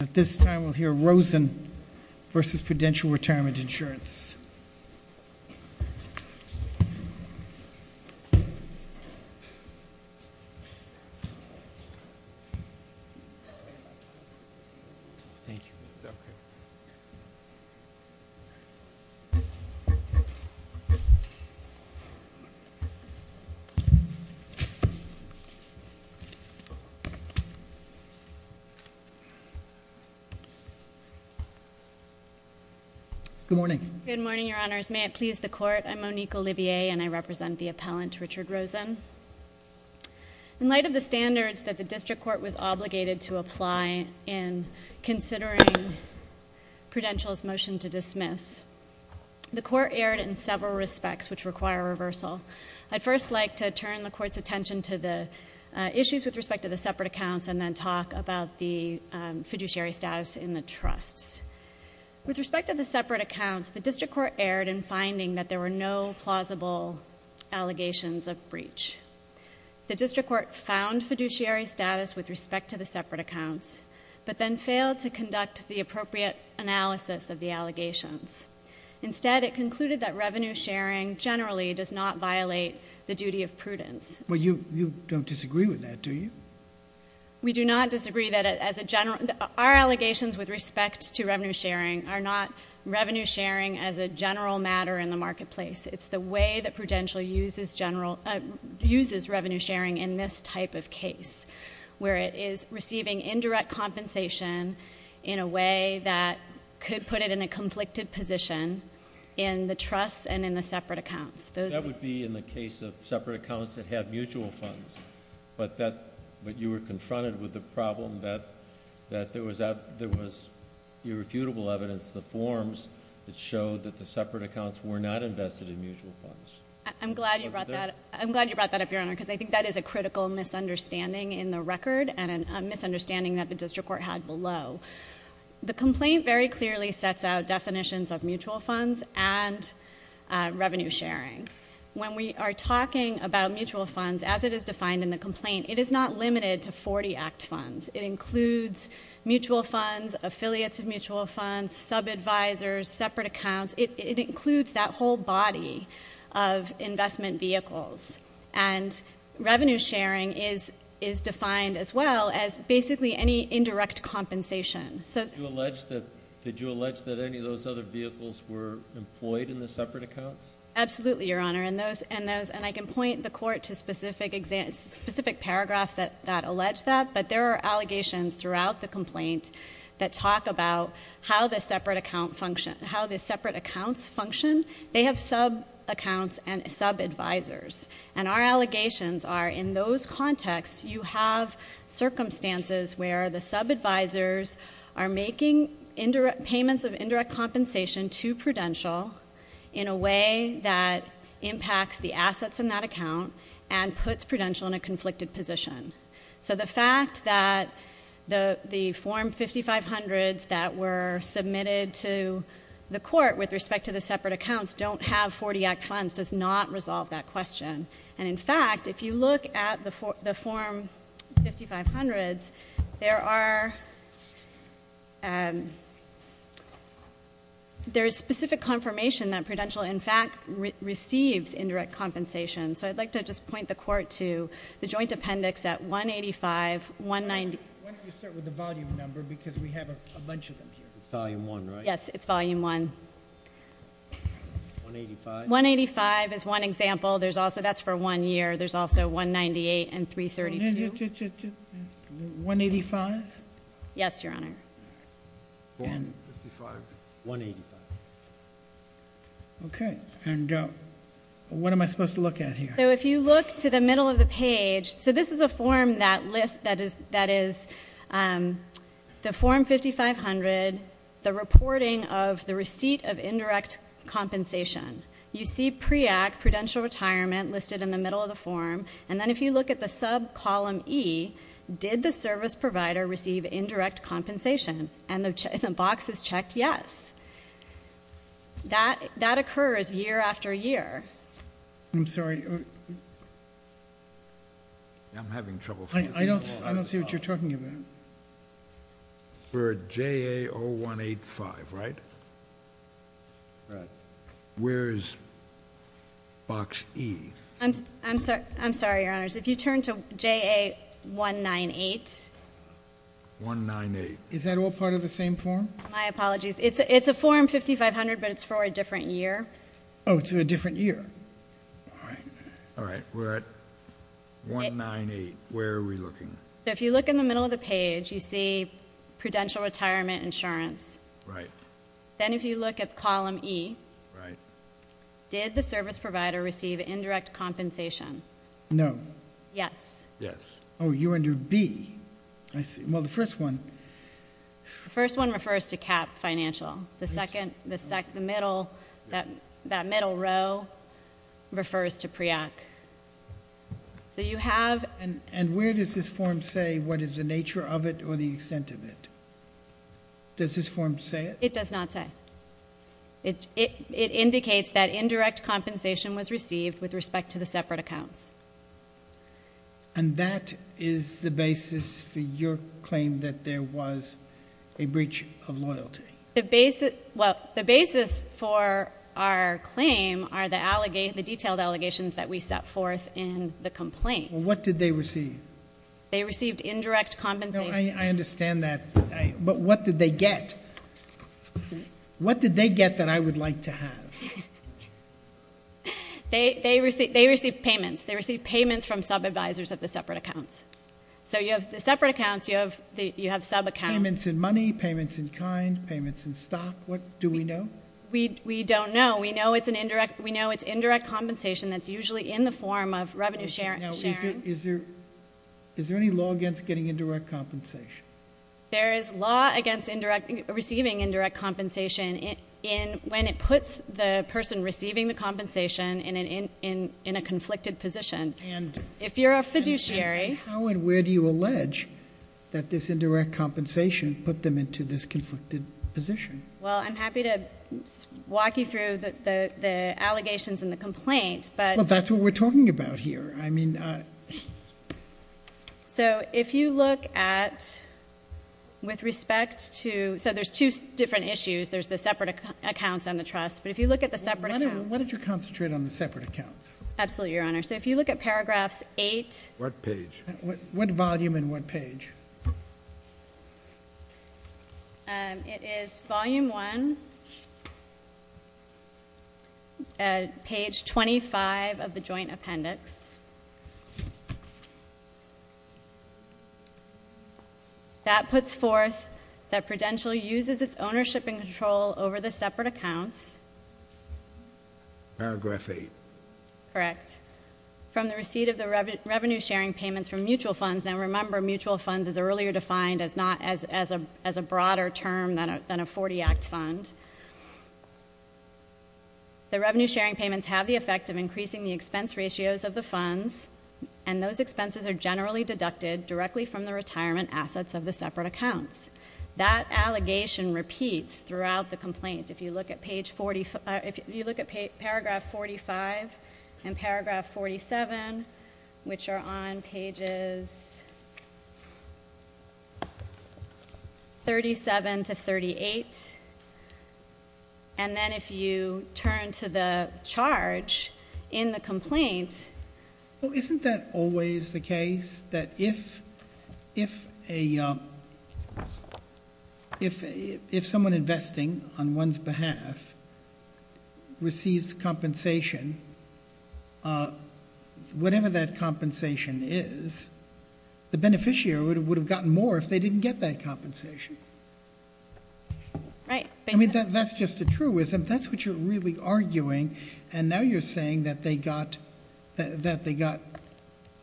At this time, we'll hear Rosen v. Prudential Retirement Insurance. Good morning. Good morning, Your Honors. May it please the Court, I'm Monique Olivier and I represent the appellant, Richard Rosen. In light of the standards that the District Court was obligated to apply in considering Prudential's motion to dismiss, the Court erred in several respects which require reversal. I'd first like to turn the Court's attention to the issues with respect to the separate accounts and then talk about the fiduciary status in the trusts. With respect to the separate accounts, the District Court erred in finding that there were no plausible allegations of breach. The District Court found fiduciary status with respect to the separate accounts, but then failed to conduct the appropriate analysis of the allegations. Instead, it concluded that revenue sharing generally does not violate the duty of prudence. Well, you don't disagree with that, do you? We do not disagree. Our allegations with respect to revenue sharing are not revenue sharing as a general matter in the marketplace. It's the way that Prudential uses revenue sharing in this type of case, where it is receiving indirect compensation in a way that could put it in a conflicted position in the trusts and in the separate accounts. That would be in the case of separate accounts that have mutual funds, but you were confronted with the problem that there was irrefutable evidence, the forms, that showed that the separate accounts were not invested in mutual funds. I'm glad you brought that up, Your Honor, because I think that is a critical misunderstanding in the record and a misunderstanding that the District Court had below. The complaint very clearly sets out definitions of mutual funds and revenue sharing. When we are talking about mutual funds, as it is defined in the complaint, it is not limited to 40 ACT funds. It includes mutual funds, affiliates of mutual funds, sub-advisors, separate accounts. It includes that whole body of investment vehicles. Revenue sharing is defined as well as basically any indirect compensation. Did you allege that any of those other vehicles were employed in the separate accounts? Absolutely, Your Honor. I can point the Court to specific paragraphs that allege that, but there are allegations throughout the complaint that talk about how the separate accounts function. They have sub-accounts and sub-advisors. Our allegations are, in those contexts, you have circumstances where the sub-advisors are making payments of indirect compensation to Prudential in a way that impacts the assets in that account and puts Prudential in a conflicted position. The fact that the separate accounts don't have 40 ACT funds does not resolve that question. In fact, if you look at the form 5500s, there is specific confirmation that Prudential, in fact, receives indirect compensation. I would like to just point the Court to the joint appendix at 185.190. Why don't you start with the volume number because we have a bunch of them here. It's volume one, right? Yes, it's volume one. 185? 185 is one example. That's for one year. There's also 198 and 332. 185? Yes, Your Honor. Okay. What am I supposed to look at here? If you look to the middle of the form 5500, the reporting of the receipt of indirect compensation, you see PREACT, Prudential Retirement, listed in the middle of the form. Then if you look at the sub-column E, did the service provider receive indirect compensation? The box is checked yes. That occurs year after year. I'm sorry. I don't see what you're talking about. We're at JA0185, right? Right. Where's box E? I'm sorry, Your Honors. If you turn to JA198. Is that all part of the same form? My apologies. It's a form 5500, but it's for a different year. Oh, it's for a different year. All right. We're at JA198. Where are we looking? If you look in the middle of the page, you see Prudential Retirement Insurance. Then if you look at column E, did the service provider receive indirect compensation? No. Yes. You're under B. The first one refers to CAP Financial. The middle row refers to PREACT. Where does this form say what is the nature of it or the extent of it? Does this form say it? It does not say. It indicates that there was a breach of loyalty. The basis for our claim are the detailed allegations that we set forth in the complaint. What did they receive? They received indirect compensation. I understand that, but what did they get? What did they get that I would like to have? They received payments. They received payments from sub-advisors of the separate accounts. Payments in money? Payments in kind? Payments in stock? What do we know? We don't know. We know it's indirect compensation that's usually in the form of revenue sharing. Is there any law against getting indirect compensation? There is law against receiving indirect compensation when it puts the person receiving the compensation in a conflicted position. If you're a fiduciary... How and where do you allege that this indirect compensation put them into this conflicted position? I'm happy to walk you through the allegations in the complaint. That's what we're talking about here. If you look at... There's two different issues. There's the separate accounts and the trust. If you look at the separate accounts... What did you concentrate on the separate accounts? Absolutely, Your Honor. If you look at Paragraphs 8... What page? What volume and what page? It is Volume 1 at Page 25 of the Joint Appendix. That puts forth that Prudential uses its ownership and control over the separate accounts. Paragraph 8. Correct. From the receipt of the revenue sharing payments from mutual funds... Now remember, mutual funds is earlier defined as a broader term than a 40-act fund. The revenue sharing payments have the effect of increasing the expense ratios of the funds, and those expenses are generally deducted directly from the retirement assets of the separate accounts. That allegation repeats throughout the complaint. If you look at Paragraph 45 and Paragraph 47, which are on Pages 37 to 38, and then if you turn to the charge in the complaint... Well, isn't that always the case, that if someone investing on one's behalf receives compensation, whatever that compensation is, the beneficiary would have gotten more if they didn't get that compensation? Right. That's just a truism. That's what you're really arguing, and now you're saying that they got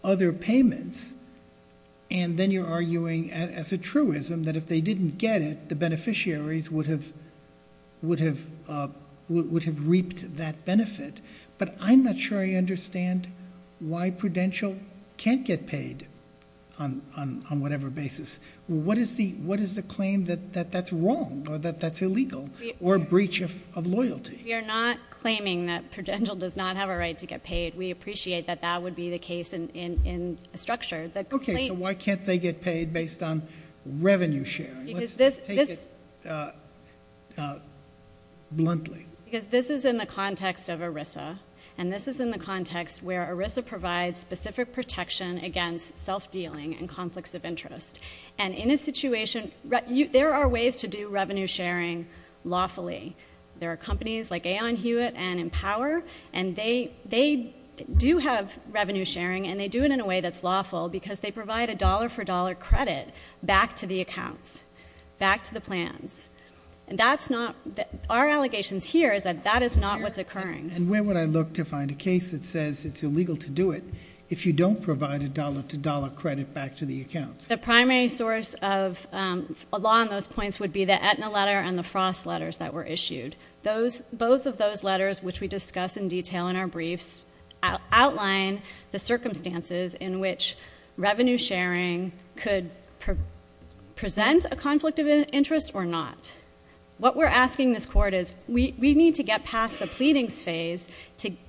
other payments, and then you're arguing as a truism that if they didn't get it, the beneficiaries would have reaped that benefit. But I'm not sure I understand why Prudential can't get paid on whatever basis. What is the claim that that's wrong, or that that's illegal, or a breach of loyalty? We are not claiming that Prudential does not have a right to get paid. We appreciate that that would be the case in structure. Okay, so why can't they get paid based on revenue sharing? Let's take it bluntly. Because this is in the context of ERISA, and this is in the context where ERISA provides specific protection against self-dealing and conflicts of interest. And in a situation... there are ways to do revenue sharing lawfully. There are companies like Aon Hewitt and Empower, and they do have revenue sharing, and they do it in a way that's lawful because they provide a dollar-for-dollar credit back to the accounts, back to the plans. Our allegations here is that that is not what's occurring. And where would I look to find a case that says it's illegal to do it if you don't provide a dollar-to-dollar credit back to the accounts? The primary source of a law on those points would be the Aetna letter and the Frost letters that were issued. Both of those letters, which we discuss in detail in our briefs, outline the circumstances in which revenue sharing could present a conflict of interest or not. What we're asking this court is, we need to get past the pleadings phase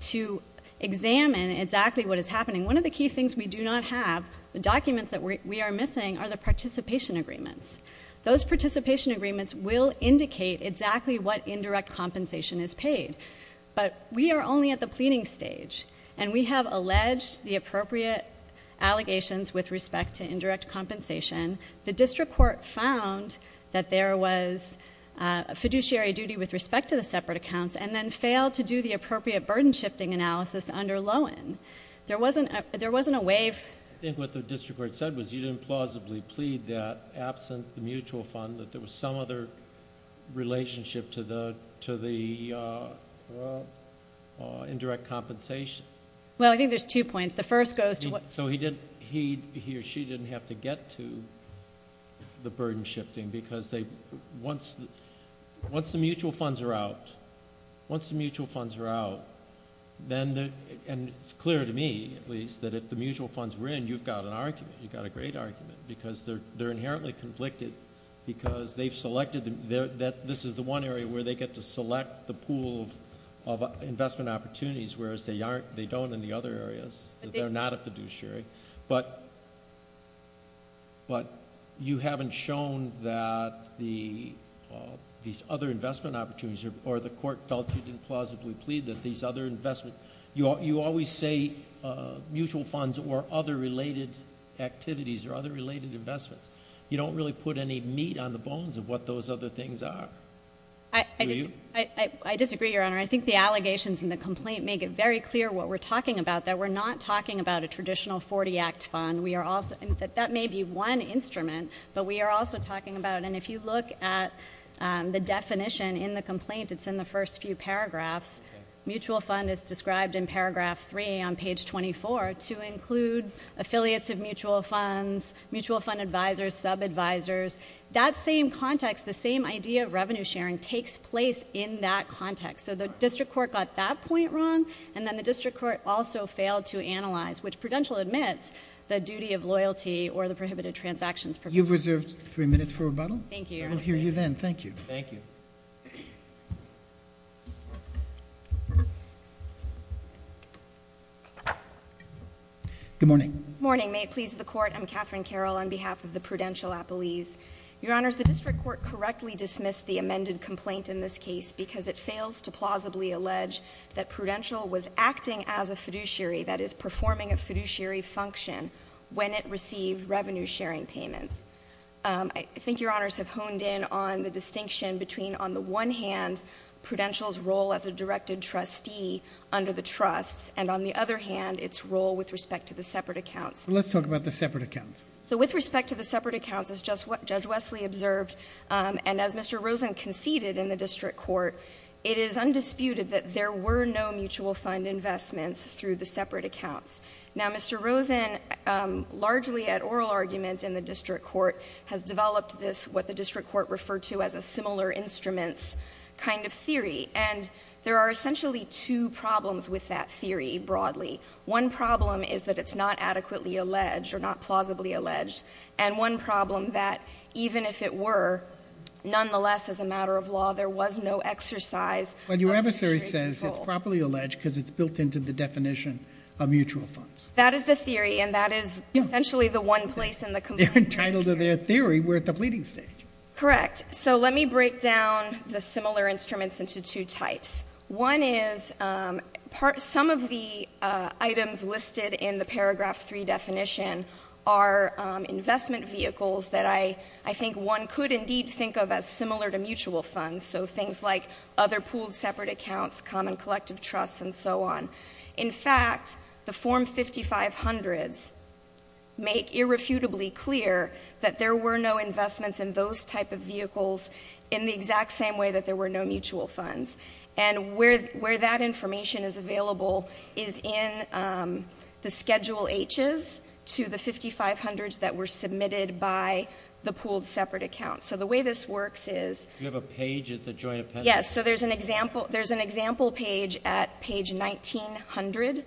to examine exactly what is happening. One of the key things we do not have, the documents that we are missing, are the participation agreements. Those participation agreements will indicate exactly what indirect compensation is paid. But we are only at the pleading stage, and we have alleged the appropriate allegations with respect to indirect compensation. The district court found that there was a fiduciary duty with respect to the separate accounts, and then failed to do the appropriate burden shifting analysis under Loewen. There wasn't a wave. I think what the district court said was you didn't plausibly plead that, absent the mutual fund, that there was some other relationship to the indirect compensation. Well, I think there's two points. So he or she didn't have to get to the burden shifting, because once the mutual funds are out, and it's clear to me, at least, that if the mutual funds were in, you've got a great argument, because they're inherently conflicted, because this is the one area where they get to select the pool of investment opportunities, whereas they don't in the other areas. They're not a fiduciary. But you haven't shown that these other investment opportunities, or the court felt you didn't plausibly plead that these other investment... You always say mutual funds or other related activities or other related investments. You don't really put any meat on the bones of what those other things are. Do you? I disagree, Your Honor. I think the allegations in the complaint make it very clear what we're talking about, that we're not talking about a traditional 40-act fund. That may be one instrument, but we are also talking about... And if you look at the definition in the complaint, it's in the first few paragraphs. Mutual fund is described in paragraph 3 on page 24 to include affiliates of mutual funds, mutual fund advisors, sub-advisors. That same context, the same idea of revenue sharing takes place in that context. So the district court got that point wrong, and then the district court also failed to analyze, which Prudential admits, the duty of loyalty or the prohibited transactions... You've reserved three minutes for rebuttal. Thank you, Your Honor. I will hear you then. Thank you. Good morning. Good morning. May it please the Court, I'm Catherine Carroll on behalf of the Prudential Appellees. Your Honors, the district court correctly dismissed the amended complaint in this case because it fails to plausibly allege that Prudential was acting as a fiduciary, that is, performing a fiduciary function when it received the complaint, and that's why I'm here today. I'm here today because I want to clarify the distinction between, on the one hand, Prudential's role as a directed trustee under the trusts, and on the other hand, its role with respect to the separate accounts. Let's talk about the separate accounts. So with respect to the separate accounts, as Judge Wesley observed, and as Mr. Rosen conceded in the district court, it is one of the most popular instruments kind of theory, and there are essentially two problems with that theory, broadly. One problem is that it's not adequately alleged or not plausibly alleged, and one problem, that even if it were, nonetheless, as a matter of law, there was no exercise of fiduciary control. But your adversary says it's properly alleged because it's built into the definition of mutual funds. That is the theory, and that is essentially the one place in the complaint. They're entitled to their theory. We're at the pleading stage. Correct. So let me break down the similar instruments into two types. One is some of the items listed in the paragraph 3 definition are investment vehicles that I think one could indeed think of as similar to mutual funds, so things like other pooled separate accounts, common collective trusts, and so on. In fact, the Form 5500s make irrefutably clear that there were no investments in those type of vehicles in the exact same way that there were no mutual funds. And where that information is available is in the Schedule H's to the 5500s that were submitted by the pooled separate accounts. So the way this works is... Do you have a page at the joint appendix? Yes. So there's an example page at page 1900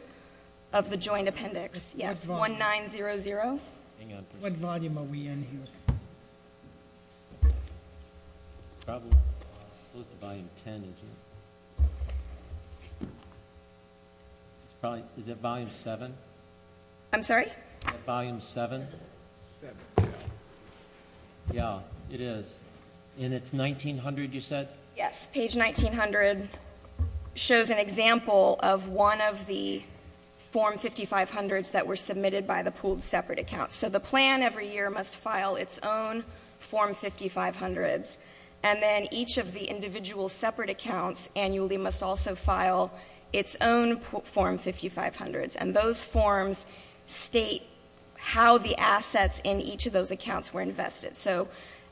of the joint appendix. Yes, 1900. What volume are we in here? It's probably close to volume 10, isn't it? It's probably... Is it volume 7? I'm sorry? Volume 7? Yeah, it is. And it's 1900, you said? Yes. Page 1900 shows an example of one of the Form 5500s that were submitted by the pooled separate accounts. So the plan every year must file its own Form 5500s, and then each of the individual separate accounts annually must also file its own Form 5500s. And those forms state how the assets in each of those accounts were invested.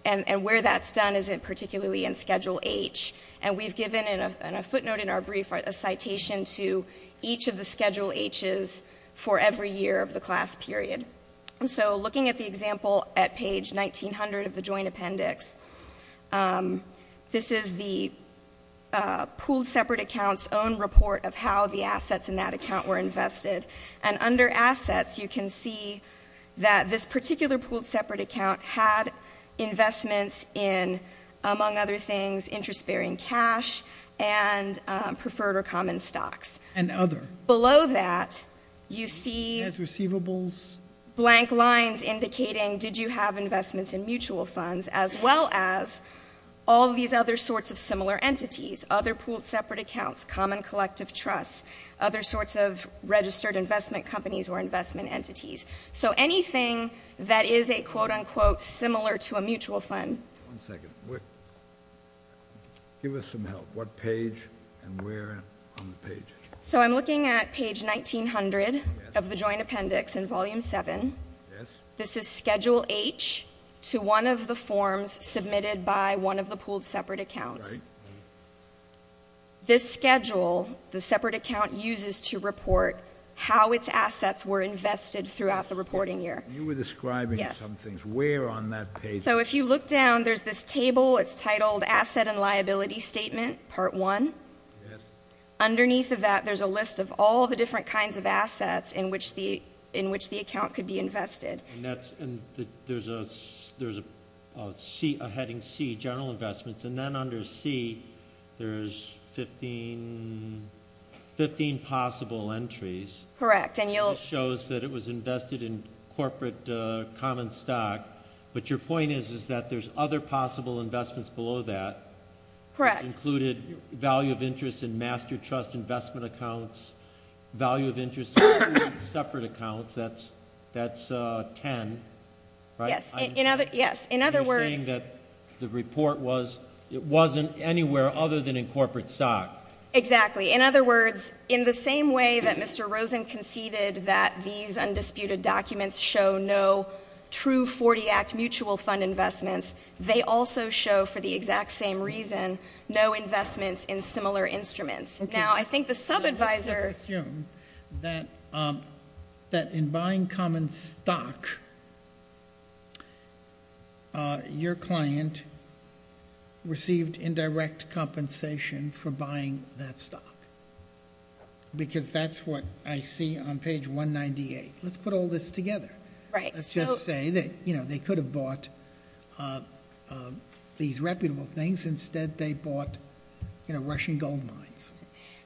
And where that's done is particularly in Schedule H. And we've given in a footnote in our brief a citation to each of the Schedule H's for every year of the class period. So looking at the example at page 1900 of the joint appendix, this is the pooled separate accounts' own report of how the assets in that account were invested. And under assets, you can see that this particular pooled separate account had investments in, among other things, interest-bearing cash and preferred or common stocks. And other. Below that, you see... There's receivables. Blank lines indicating did you have investments in mutual funds, as well as all these other sorts of similar entities, other pooled separate accounts, common collective trusts, other sorts of registered investment companies or investment entities. So anything that is a quote-unquote similar to a mutual fund. One second. Give us some help. What page and where on the page? So I'm looking at page 1900 of the joint appendix in Volume 7. This is Schedule H to one of the forms submitted by one of the pooled separate accounts. This schedule the separate account uses to report how its assets were invested throughout the reporting year. You were describing some things. Where on that page? So if you look down, there's this table. It's titled Asset and Liability Statement, Part 1. Underneath of that, there's a list of all the different kinds of assets in which the account could be invested. And there's a heading C, General Investments. And then under C, there's 15 possible entries. Correct. It shows that it was invested in general investments below that. Correct. It included value of interest in master trust investment accounts, value of interest in separate accounts. That's 10. Yes. In other words... You're saying that the report wasn't anywhere other than in corporate stock. Exactly. In other words, in the same way that Mr. Rosen conceded that these undisputed documents show no true 40 Act mutual fund investments, they also show for the exact same reason no investments in similar instruments. Now, I think the subadvisor... Let's assume that in buying common stock, your client received indirect compensation for buying that stock. Because that's what I see on page 198. Let's put all this together. Let's just say that they could have bought these reputable things. Instead, they bought Russian gold mines.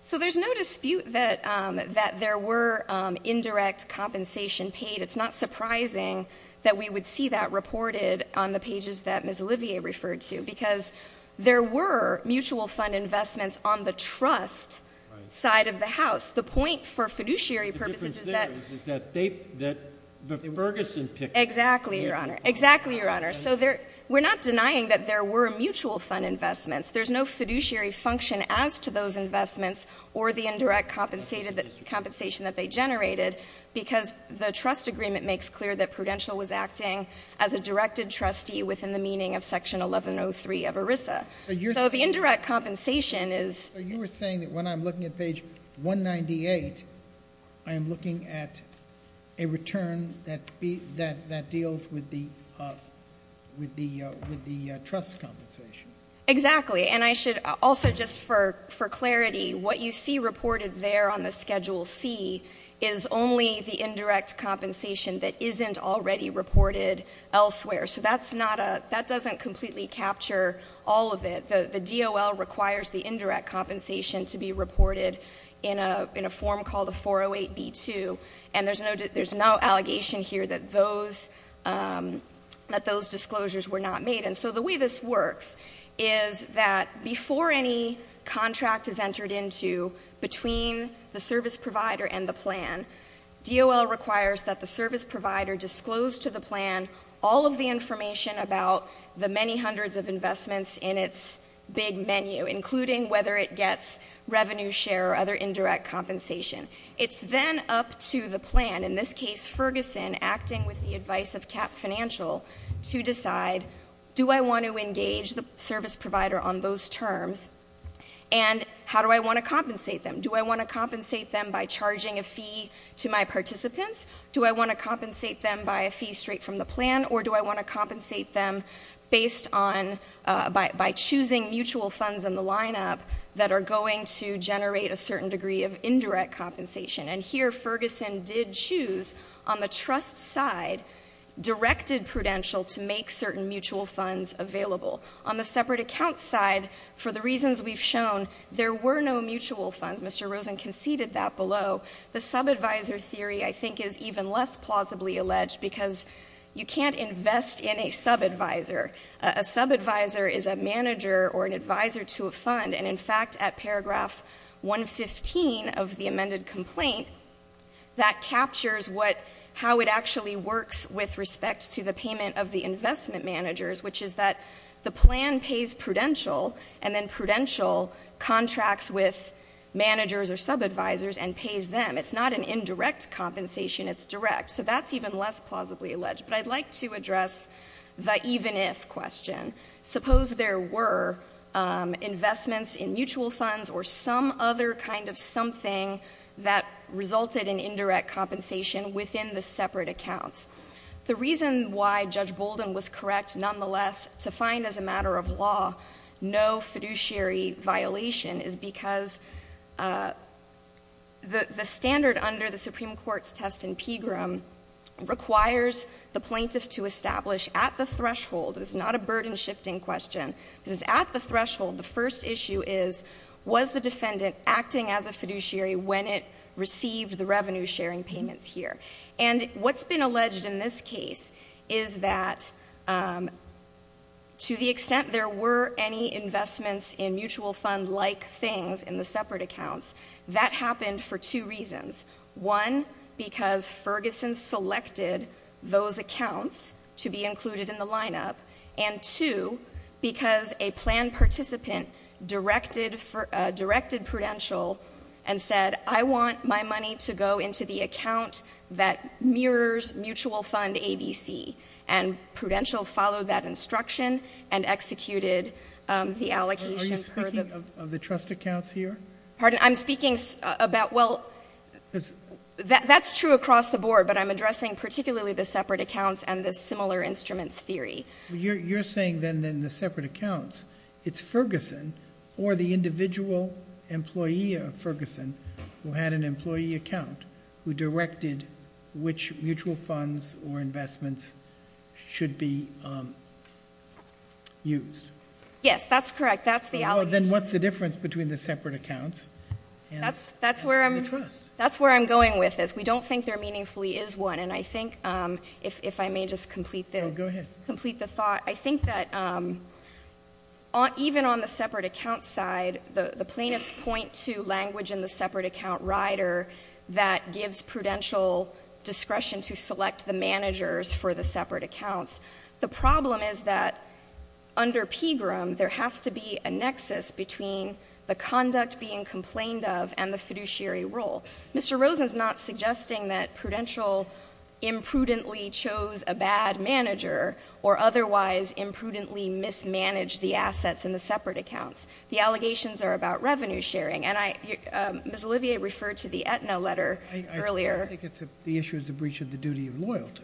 So there's no dispute that there were indirect compensation paid. It's not surprising that we would see that reported on the pages that Ms. Olivier referred to. Because there were mutual fund investments on the trust side of the House. The point for fiduciary purposes is that... The difference there is that the Ferguson Pickett... Exactly, Your Honor. We're not denying that there were mutual fund investments. There's no fiduciary function as to those investments or the indirect compensation that they generated. Because the trust agreement makes clear that Prudential was acting as a directed trustee within the meaning of Section 1103 of ERISA. So the indirect compensation is... So you were saying that when I'm looking at page 198, I am looking at a return that deals with the trust compensation. Exactly. And I should also, just for clarity, what you see reported there on the Schedule C is only the indirect compensation that isn't already reported elsewhere. So that doesn't completely capture all of it. The DOL requires the indirect compensation to be reported in a form called a 408B2. And there's no allegation here that those disclosures were not made. And so the way this works is that before any contract is entered into between the service provider and the plan, DOL requires that the service provider disclose to the plan all of the information about the many hundreds of investments in its big menu, including whether it gets revenue share or other indirect compensation. It's then up to the plan, in this case Ferguson, acting with the advice of CAP Financial, to decide, do I want to engage the service provider on those terms? And how do I want to compensate them? Do I want to compensate them by charging a fee to my participants? Do I want to compensate them by a fee straight from the plan? Or do I want to compensate them based on... by choosing mutual funds in the lineup that are going to generate a certain degree of indirect compensation? And here Ferguson did choose on the trust side directed prudential to make certain mutual funds available. On the separate account side, for the reasons we've shown, there were no mutual funds. Mr. Rosen conceded that below. The subadvisor theory, I think, is even less plausibly alleged because you can't invest in a subadvisor. A subadvisor is a subcontractor. It's not an indirect compensation. It's direct. So that's even less plausibly alleged. But I'd like to address the even-if question. Suppose there were investments in mutual funds or some other kind of something that resulted in indirect compensation within the separate accounts. The reason why Judge Bolden was correct, nonetheless, to find as a matter of law no fiduciary violation is because the standard under the Supreme Court's test in Pegram requires the plaintiff to establish at the threshold—this is not a burden-shifting question—at the threshold, the first issue is, was the defendant acting as a fiduciary when it received the revenue-sharing payments here? And what's been alleged in this case is that to the extent there were any investments in mutual fund-like things in the separate accounts, that happened for two reasons. One, because Ferguson selected those accounts to be included in the lineup, and two, because a plan participant directed Prudential and said, I want my money to go into the account that mirrors mutual fund ABC. And Prudential followed that instruction and executed the allocation for the— Are you speaking of the trust accounts here? Pardon? I'm speaking about—well, that's true across the board, but I'm addressing particularly the separate accounts and the similar instruments theory. You're saying, then, in the separate accounts, it's Ferguson or the individual employee of Ferguson who had an employee account who directed which mutual funds or investments should be used. Yes, that's correct. That's the allegation. Well, then what's the difference between the separate accounts and the trust? That's where I'm going with this. We don't think there meaningfully is one, and I think, if I may just complete the— Go ahead. Complete the thought. I think that even on the separate account side, the plaintiffs point to language in the separate account rider that gives Prudential discretion to select the managers for the separate accounts. The problem is that under PGRM, there has to be a nexus between the conduct being complained of and the fiduciary role. Mr. Rosen's not suggesting that Prudential imprudently chose a bad manager or otherwise imprudently mismanaged the assets in the separate accounts. The allegations are about revenue sharing, and Ms. Olivier referred to the Aetna letter earlier. I think it's the issue of the breach of the duty of loyalty.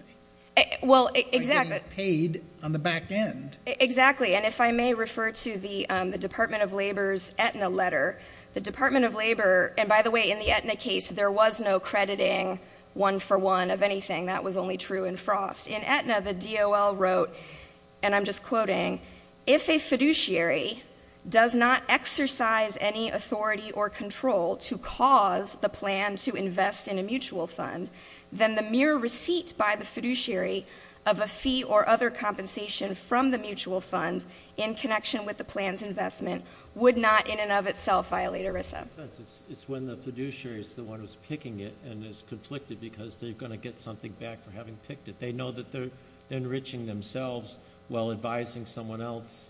Well, exactly. By getting paid on the back end. Exactly, and if I may refer to the Department of Labor's Aetna letter, the Department of Labor—and by the way, in the Aetna case, there was no crediting one-for-one of anything. That was only true in Frost. In Aetna, the DOL wrote—and I'm just quoting—if a fiduciary does not exercise any authority or control to cause the plan to invest in a mutual fund, then the mere receipt by the fiduciary of a fee or other compensation from the mutual fund in connection with the plan's investment would not in and of itself violate ERISA. In a sense, it's when the fiduciary is the one who's picking it and is conflicted because they're going to get something back for having picked it. They know that they're enriching themselves while advising someone else.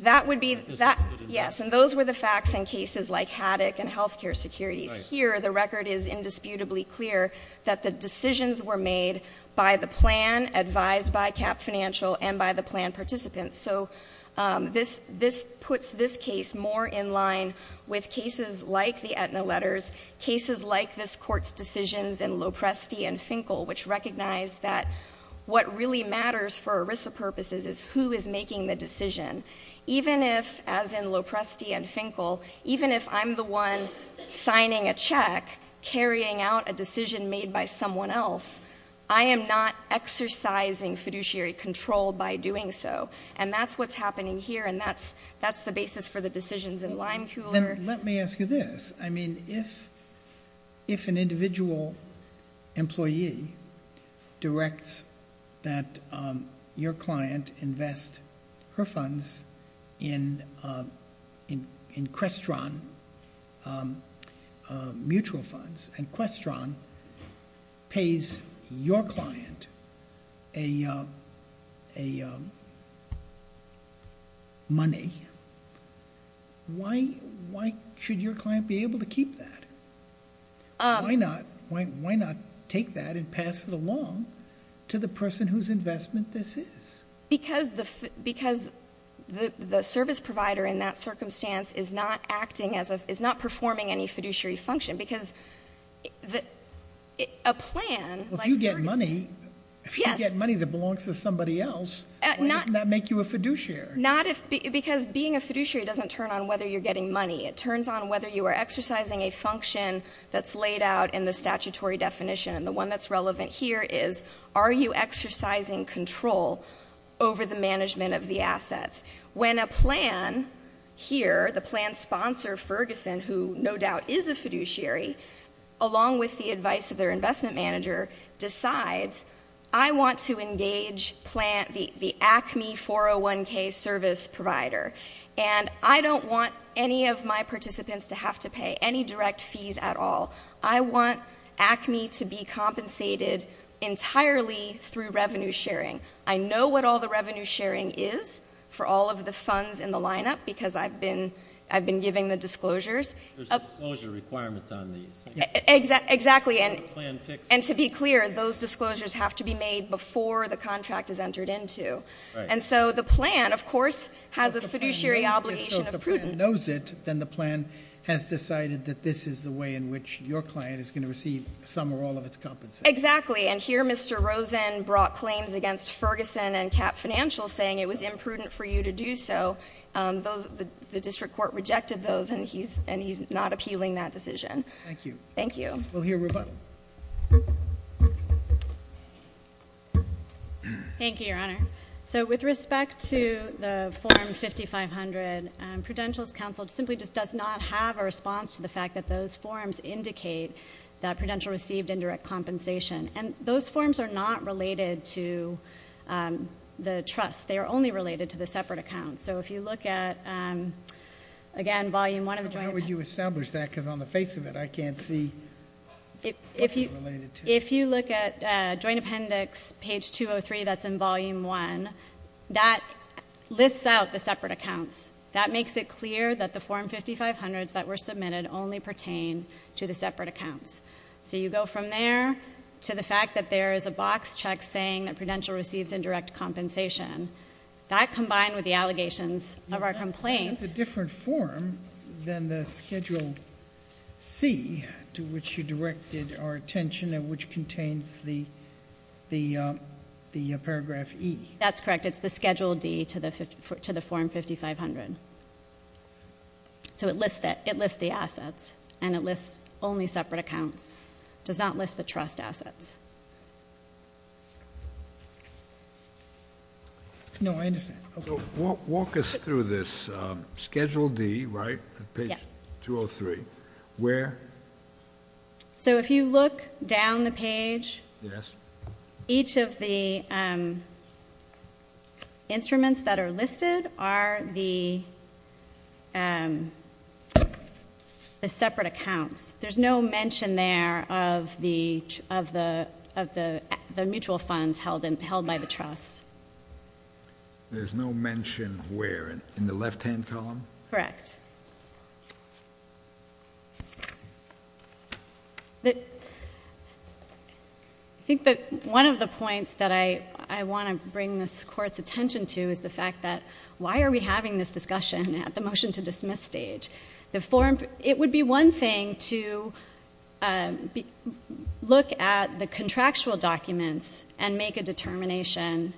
That would be—yes, and those were the facts in cases like Haddock and health care securities. Here, the record is indisputably clear that the decisions were made by the plan, advised by CAP Financial, and by the plan participants. So this puts this case more in line with cases like the Aetna letters, cases like this Court's decisions in Lopresti and Finkel, which recognize that what really matters for ERISA purposes is who is making the decision. Even if, as in Lopresti and Finkel, even if I'm the one signing a check, carrying out a decision made by someone else, I am not exercising fiduciary control by doing so, and that's what's happening here, and that's the basis for the decisions in Limeculer. Then let me ask you this. I mean, if an individual employee directs that your client invest her funds in Crestron mutual funds, and Crestron pays your client a lot of money, why should your client be able to keep that? Why not take that and pass it along to the person whose investment this is? Because the service provider in that circumstance is not acting as a, is not performing any fiduciary function, because a plan... Well, if you get money that belongs to somebody else, why doesn't that make you a fiduciary? Not if, because being a fiduciary doesn't turn on whether you're getting money. It turns on whether you are exercising a function that's laid out in the statutory definition, and the one that's relevant here is, are you exercising control over the management of the assets? When a plan here, the plan sponsor Ferguson, who no doubt is a fiduciary, along with the advice of their investment manager, decides, I want to engage the ACME 401k service provider, and I don't want any of my participants to have to pay any direct fees at all. I want ACME to be compensated entirely through revenue sharing. I know what all the revenue sharing is for all of the funds in the lineup, because I've been giving the disclosures. There's disclosure requirements on these. Exactly, and to be clear, those disclosures have to be made before the contract is entered into, and so the plan, of course, has a fiduciary obligation of prudence. If the client knows it, then the plan has decided that this is the way in which your client is going to receive some or all of its compensation. Exactly, and here Mr. Rosen brought claims against Ferguson and Cap Financial saying it was imprudent for you to do so. The district court rejected those, and he's not appealing that decision. Thank you. We'll hear rebuttal. Thank you, Your Honor. With respect to the form 5500, Prudential's counsel simply just does not have a response to the fact that those forms indicate that Prudential received indirect compensation, and those forms are not related to the trust. They are only related to the separate accounts, so if you look at, again, volume one of the joint appendix. But how would you establish that? Because on the face of it, I can't see what they're related to. If you look at joint appendix page 203, that's in volume one, that lists out the separate accounts. That makes it clear that the form 5500s that were submitted only pertain to the separate accounts, so you go from there to the fact that there is a box check saying that Prudential receives indirect compensation. That, combined with the allegations of our complaint... That's a different form than the Schedule C to which you directed our attention, which contains the paragraph E. That's correct. It's the Schedule D to the form 5500. So it lists the assets, and it lists only separate accounts. It does not list the trust assets. Walk us through this. Schedule D, right? Page 203. Where? So if you look down the page, each of the instruments that are listed are the separate accounts. There's no mention there of the mutual funds held by the trust. There's no mention where? In the left-hand column? Correct. I think that one of the points that I want to bring this Court's attention to is the fact that there's a lot of confusion about why are we having this discussion at the motion to dismiss stage. It would be one thing to look at the contractual documents and make a determination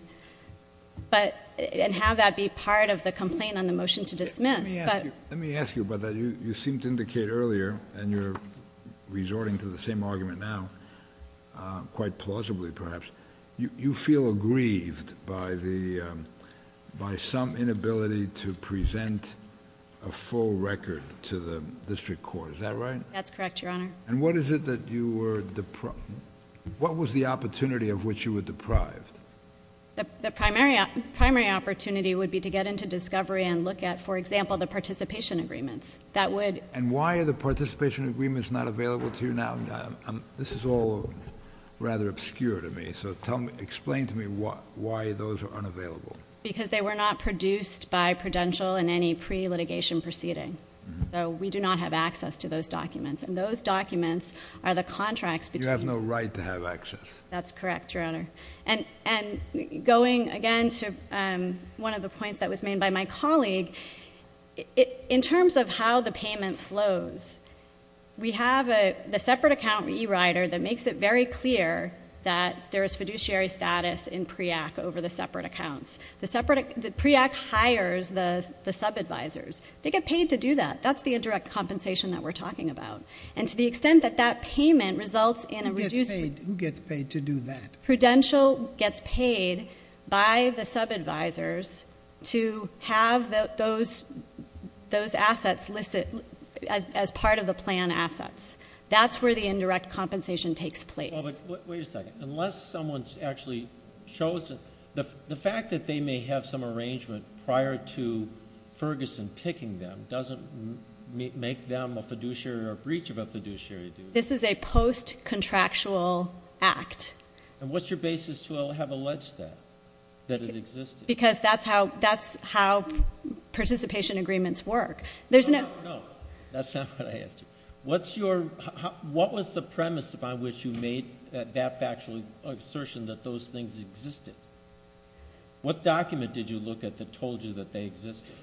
and have that be part of the complaint on the motion to dismiss. Let me ask you about that. You seemed to indicate earlier, and you're resorting to the same argument now, quite plausibly perhaps, you feel aggrieved by some inability to present a full record to the District Court. Is that right? That's correct, Your Honor. And what was the opportunity of which you were deprived? The primary opportunity would be to get into discovery and look at, for example, the participation agreements. And why are the agreements unavailable? Because they were not produced by Prudential in any pre-litigation proceeding. So we do not have access to those documents. And those documents are the contracts between... You have no right to have access. That's correct, Your Honor. And going again to one of the points that was made by my colleague, in terms of how the payment flows, we have the separate account e-writer that makes it very clear that there is fiduciary status in PREAC over the separate accounts. PREAC hires the sub-advisors. They get paid to do that. That's the indirect compensation that we're talking about. And to the extent that that payment results in a... Who gets paid to do that? Prudential gets paid by the sub-advisors to have those assets listed as part of the plan assets. That's where the indirect compensation takes place. Wait a second. Unless someone's actually chosen... The fact that they may have some arrangement prior to Ferguson picking them doesn't make them a fiduciary or a breach of a fiduciary duty. This is a post-contractual act. And what's your basis to have alleged that it existed? Because that's how participation agreements work. No, no, no. That's not what I asked you. What was the premise by which you made that factual assertion that those things existed? What document did you look at that told you that they existed?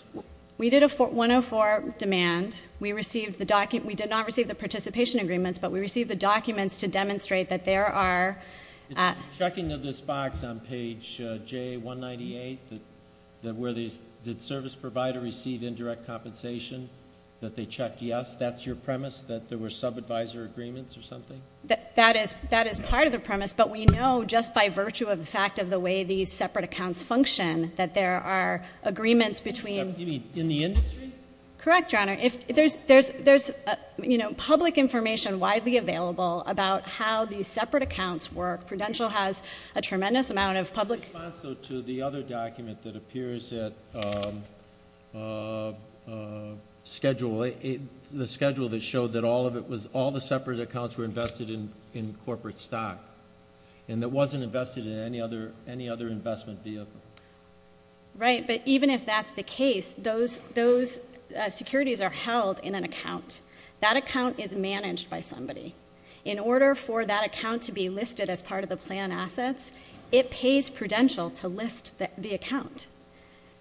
We did a 104 demand. We did not receive the participation agreements, but we received the documents to demonstrate that there are... Checking of this box on page J198, did service provider receive indirect compensation that they checked yes? That's your premise, that there were sub-advisor agreements or something? That is part of the premise, but we know just by virtue of the fact of the way these separate accounts function that there are agreements between... widely available about how these separate accounts work. Prudential has a tremendous amount of public... In response to the other document that appears at the schedule that showed that all the separate accounts were invested in corporate stock and it wasn't invested in any other investment vehicle. Right, but even if that's the case, those securities are held in an account. That account is managed by somebody. In order for that account to be listed as part of the plan assets, it pays Prudential to list the account.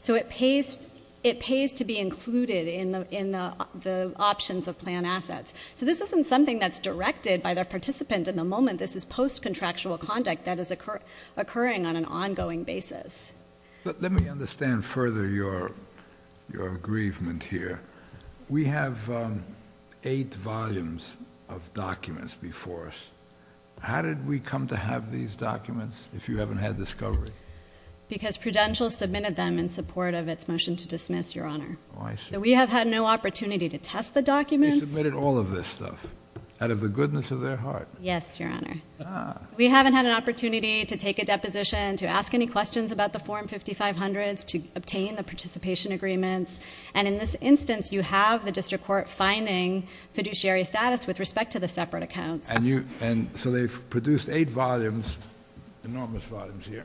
It pays to be included in the options of plan assets. This isn't something that's directed by the participant in the moment. This is post-contractual conduct that is occurring on an ongoing basis. Let me understand further your aggrievement here. We have eight volumes of documents before us. How did we come to have these documents if you haven't had discovery? Because Prudential submitted them in support of its motion to dismiss, Your Honor. So we have had no opportunity to test the documents. You submitted all of this stuff out of the goodness of their minds. You submitted questions about the form 5500s to obtain the participation agreements. In this instance, you have the district court finding fiduciary status with respect to the separate accounts. So they've produced eight volumes, enormous volumes here,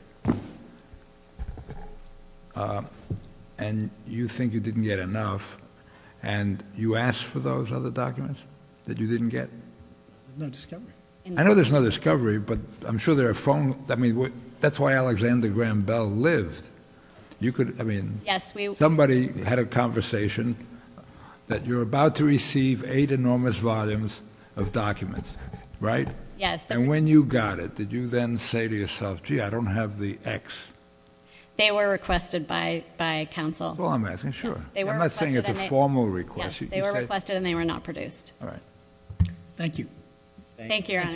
and you think you didn't get enough. You asked for those other documents that you didn't get? There's no discovery. I know there's no discovery, but I'm sure there are phone... That's why Alexander Graham Bell lived. Somebody had a conversation that you're about to receive eight enormous volumes of documents, right? Yes. And when you got it, did you then say to yourself, gee, I don't have the X? They were requested by counsel. That's all I'm asking, sure. I'm not saying it's a formal request. Yes, they were requested and they were not produced. Thank you. Thank you, Your Honor. Thank you both.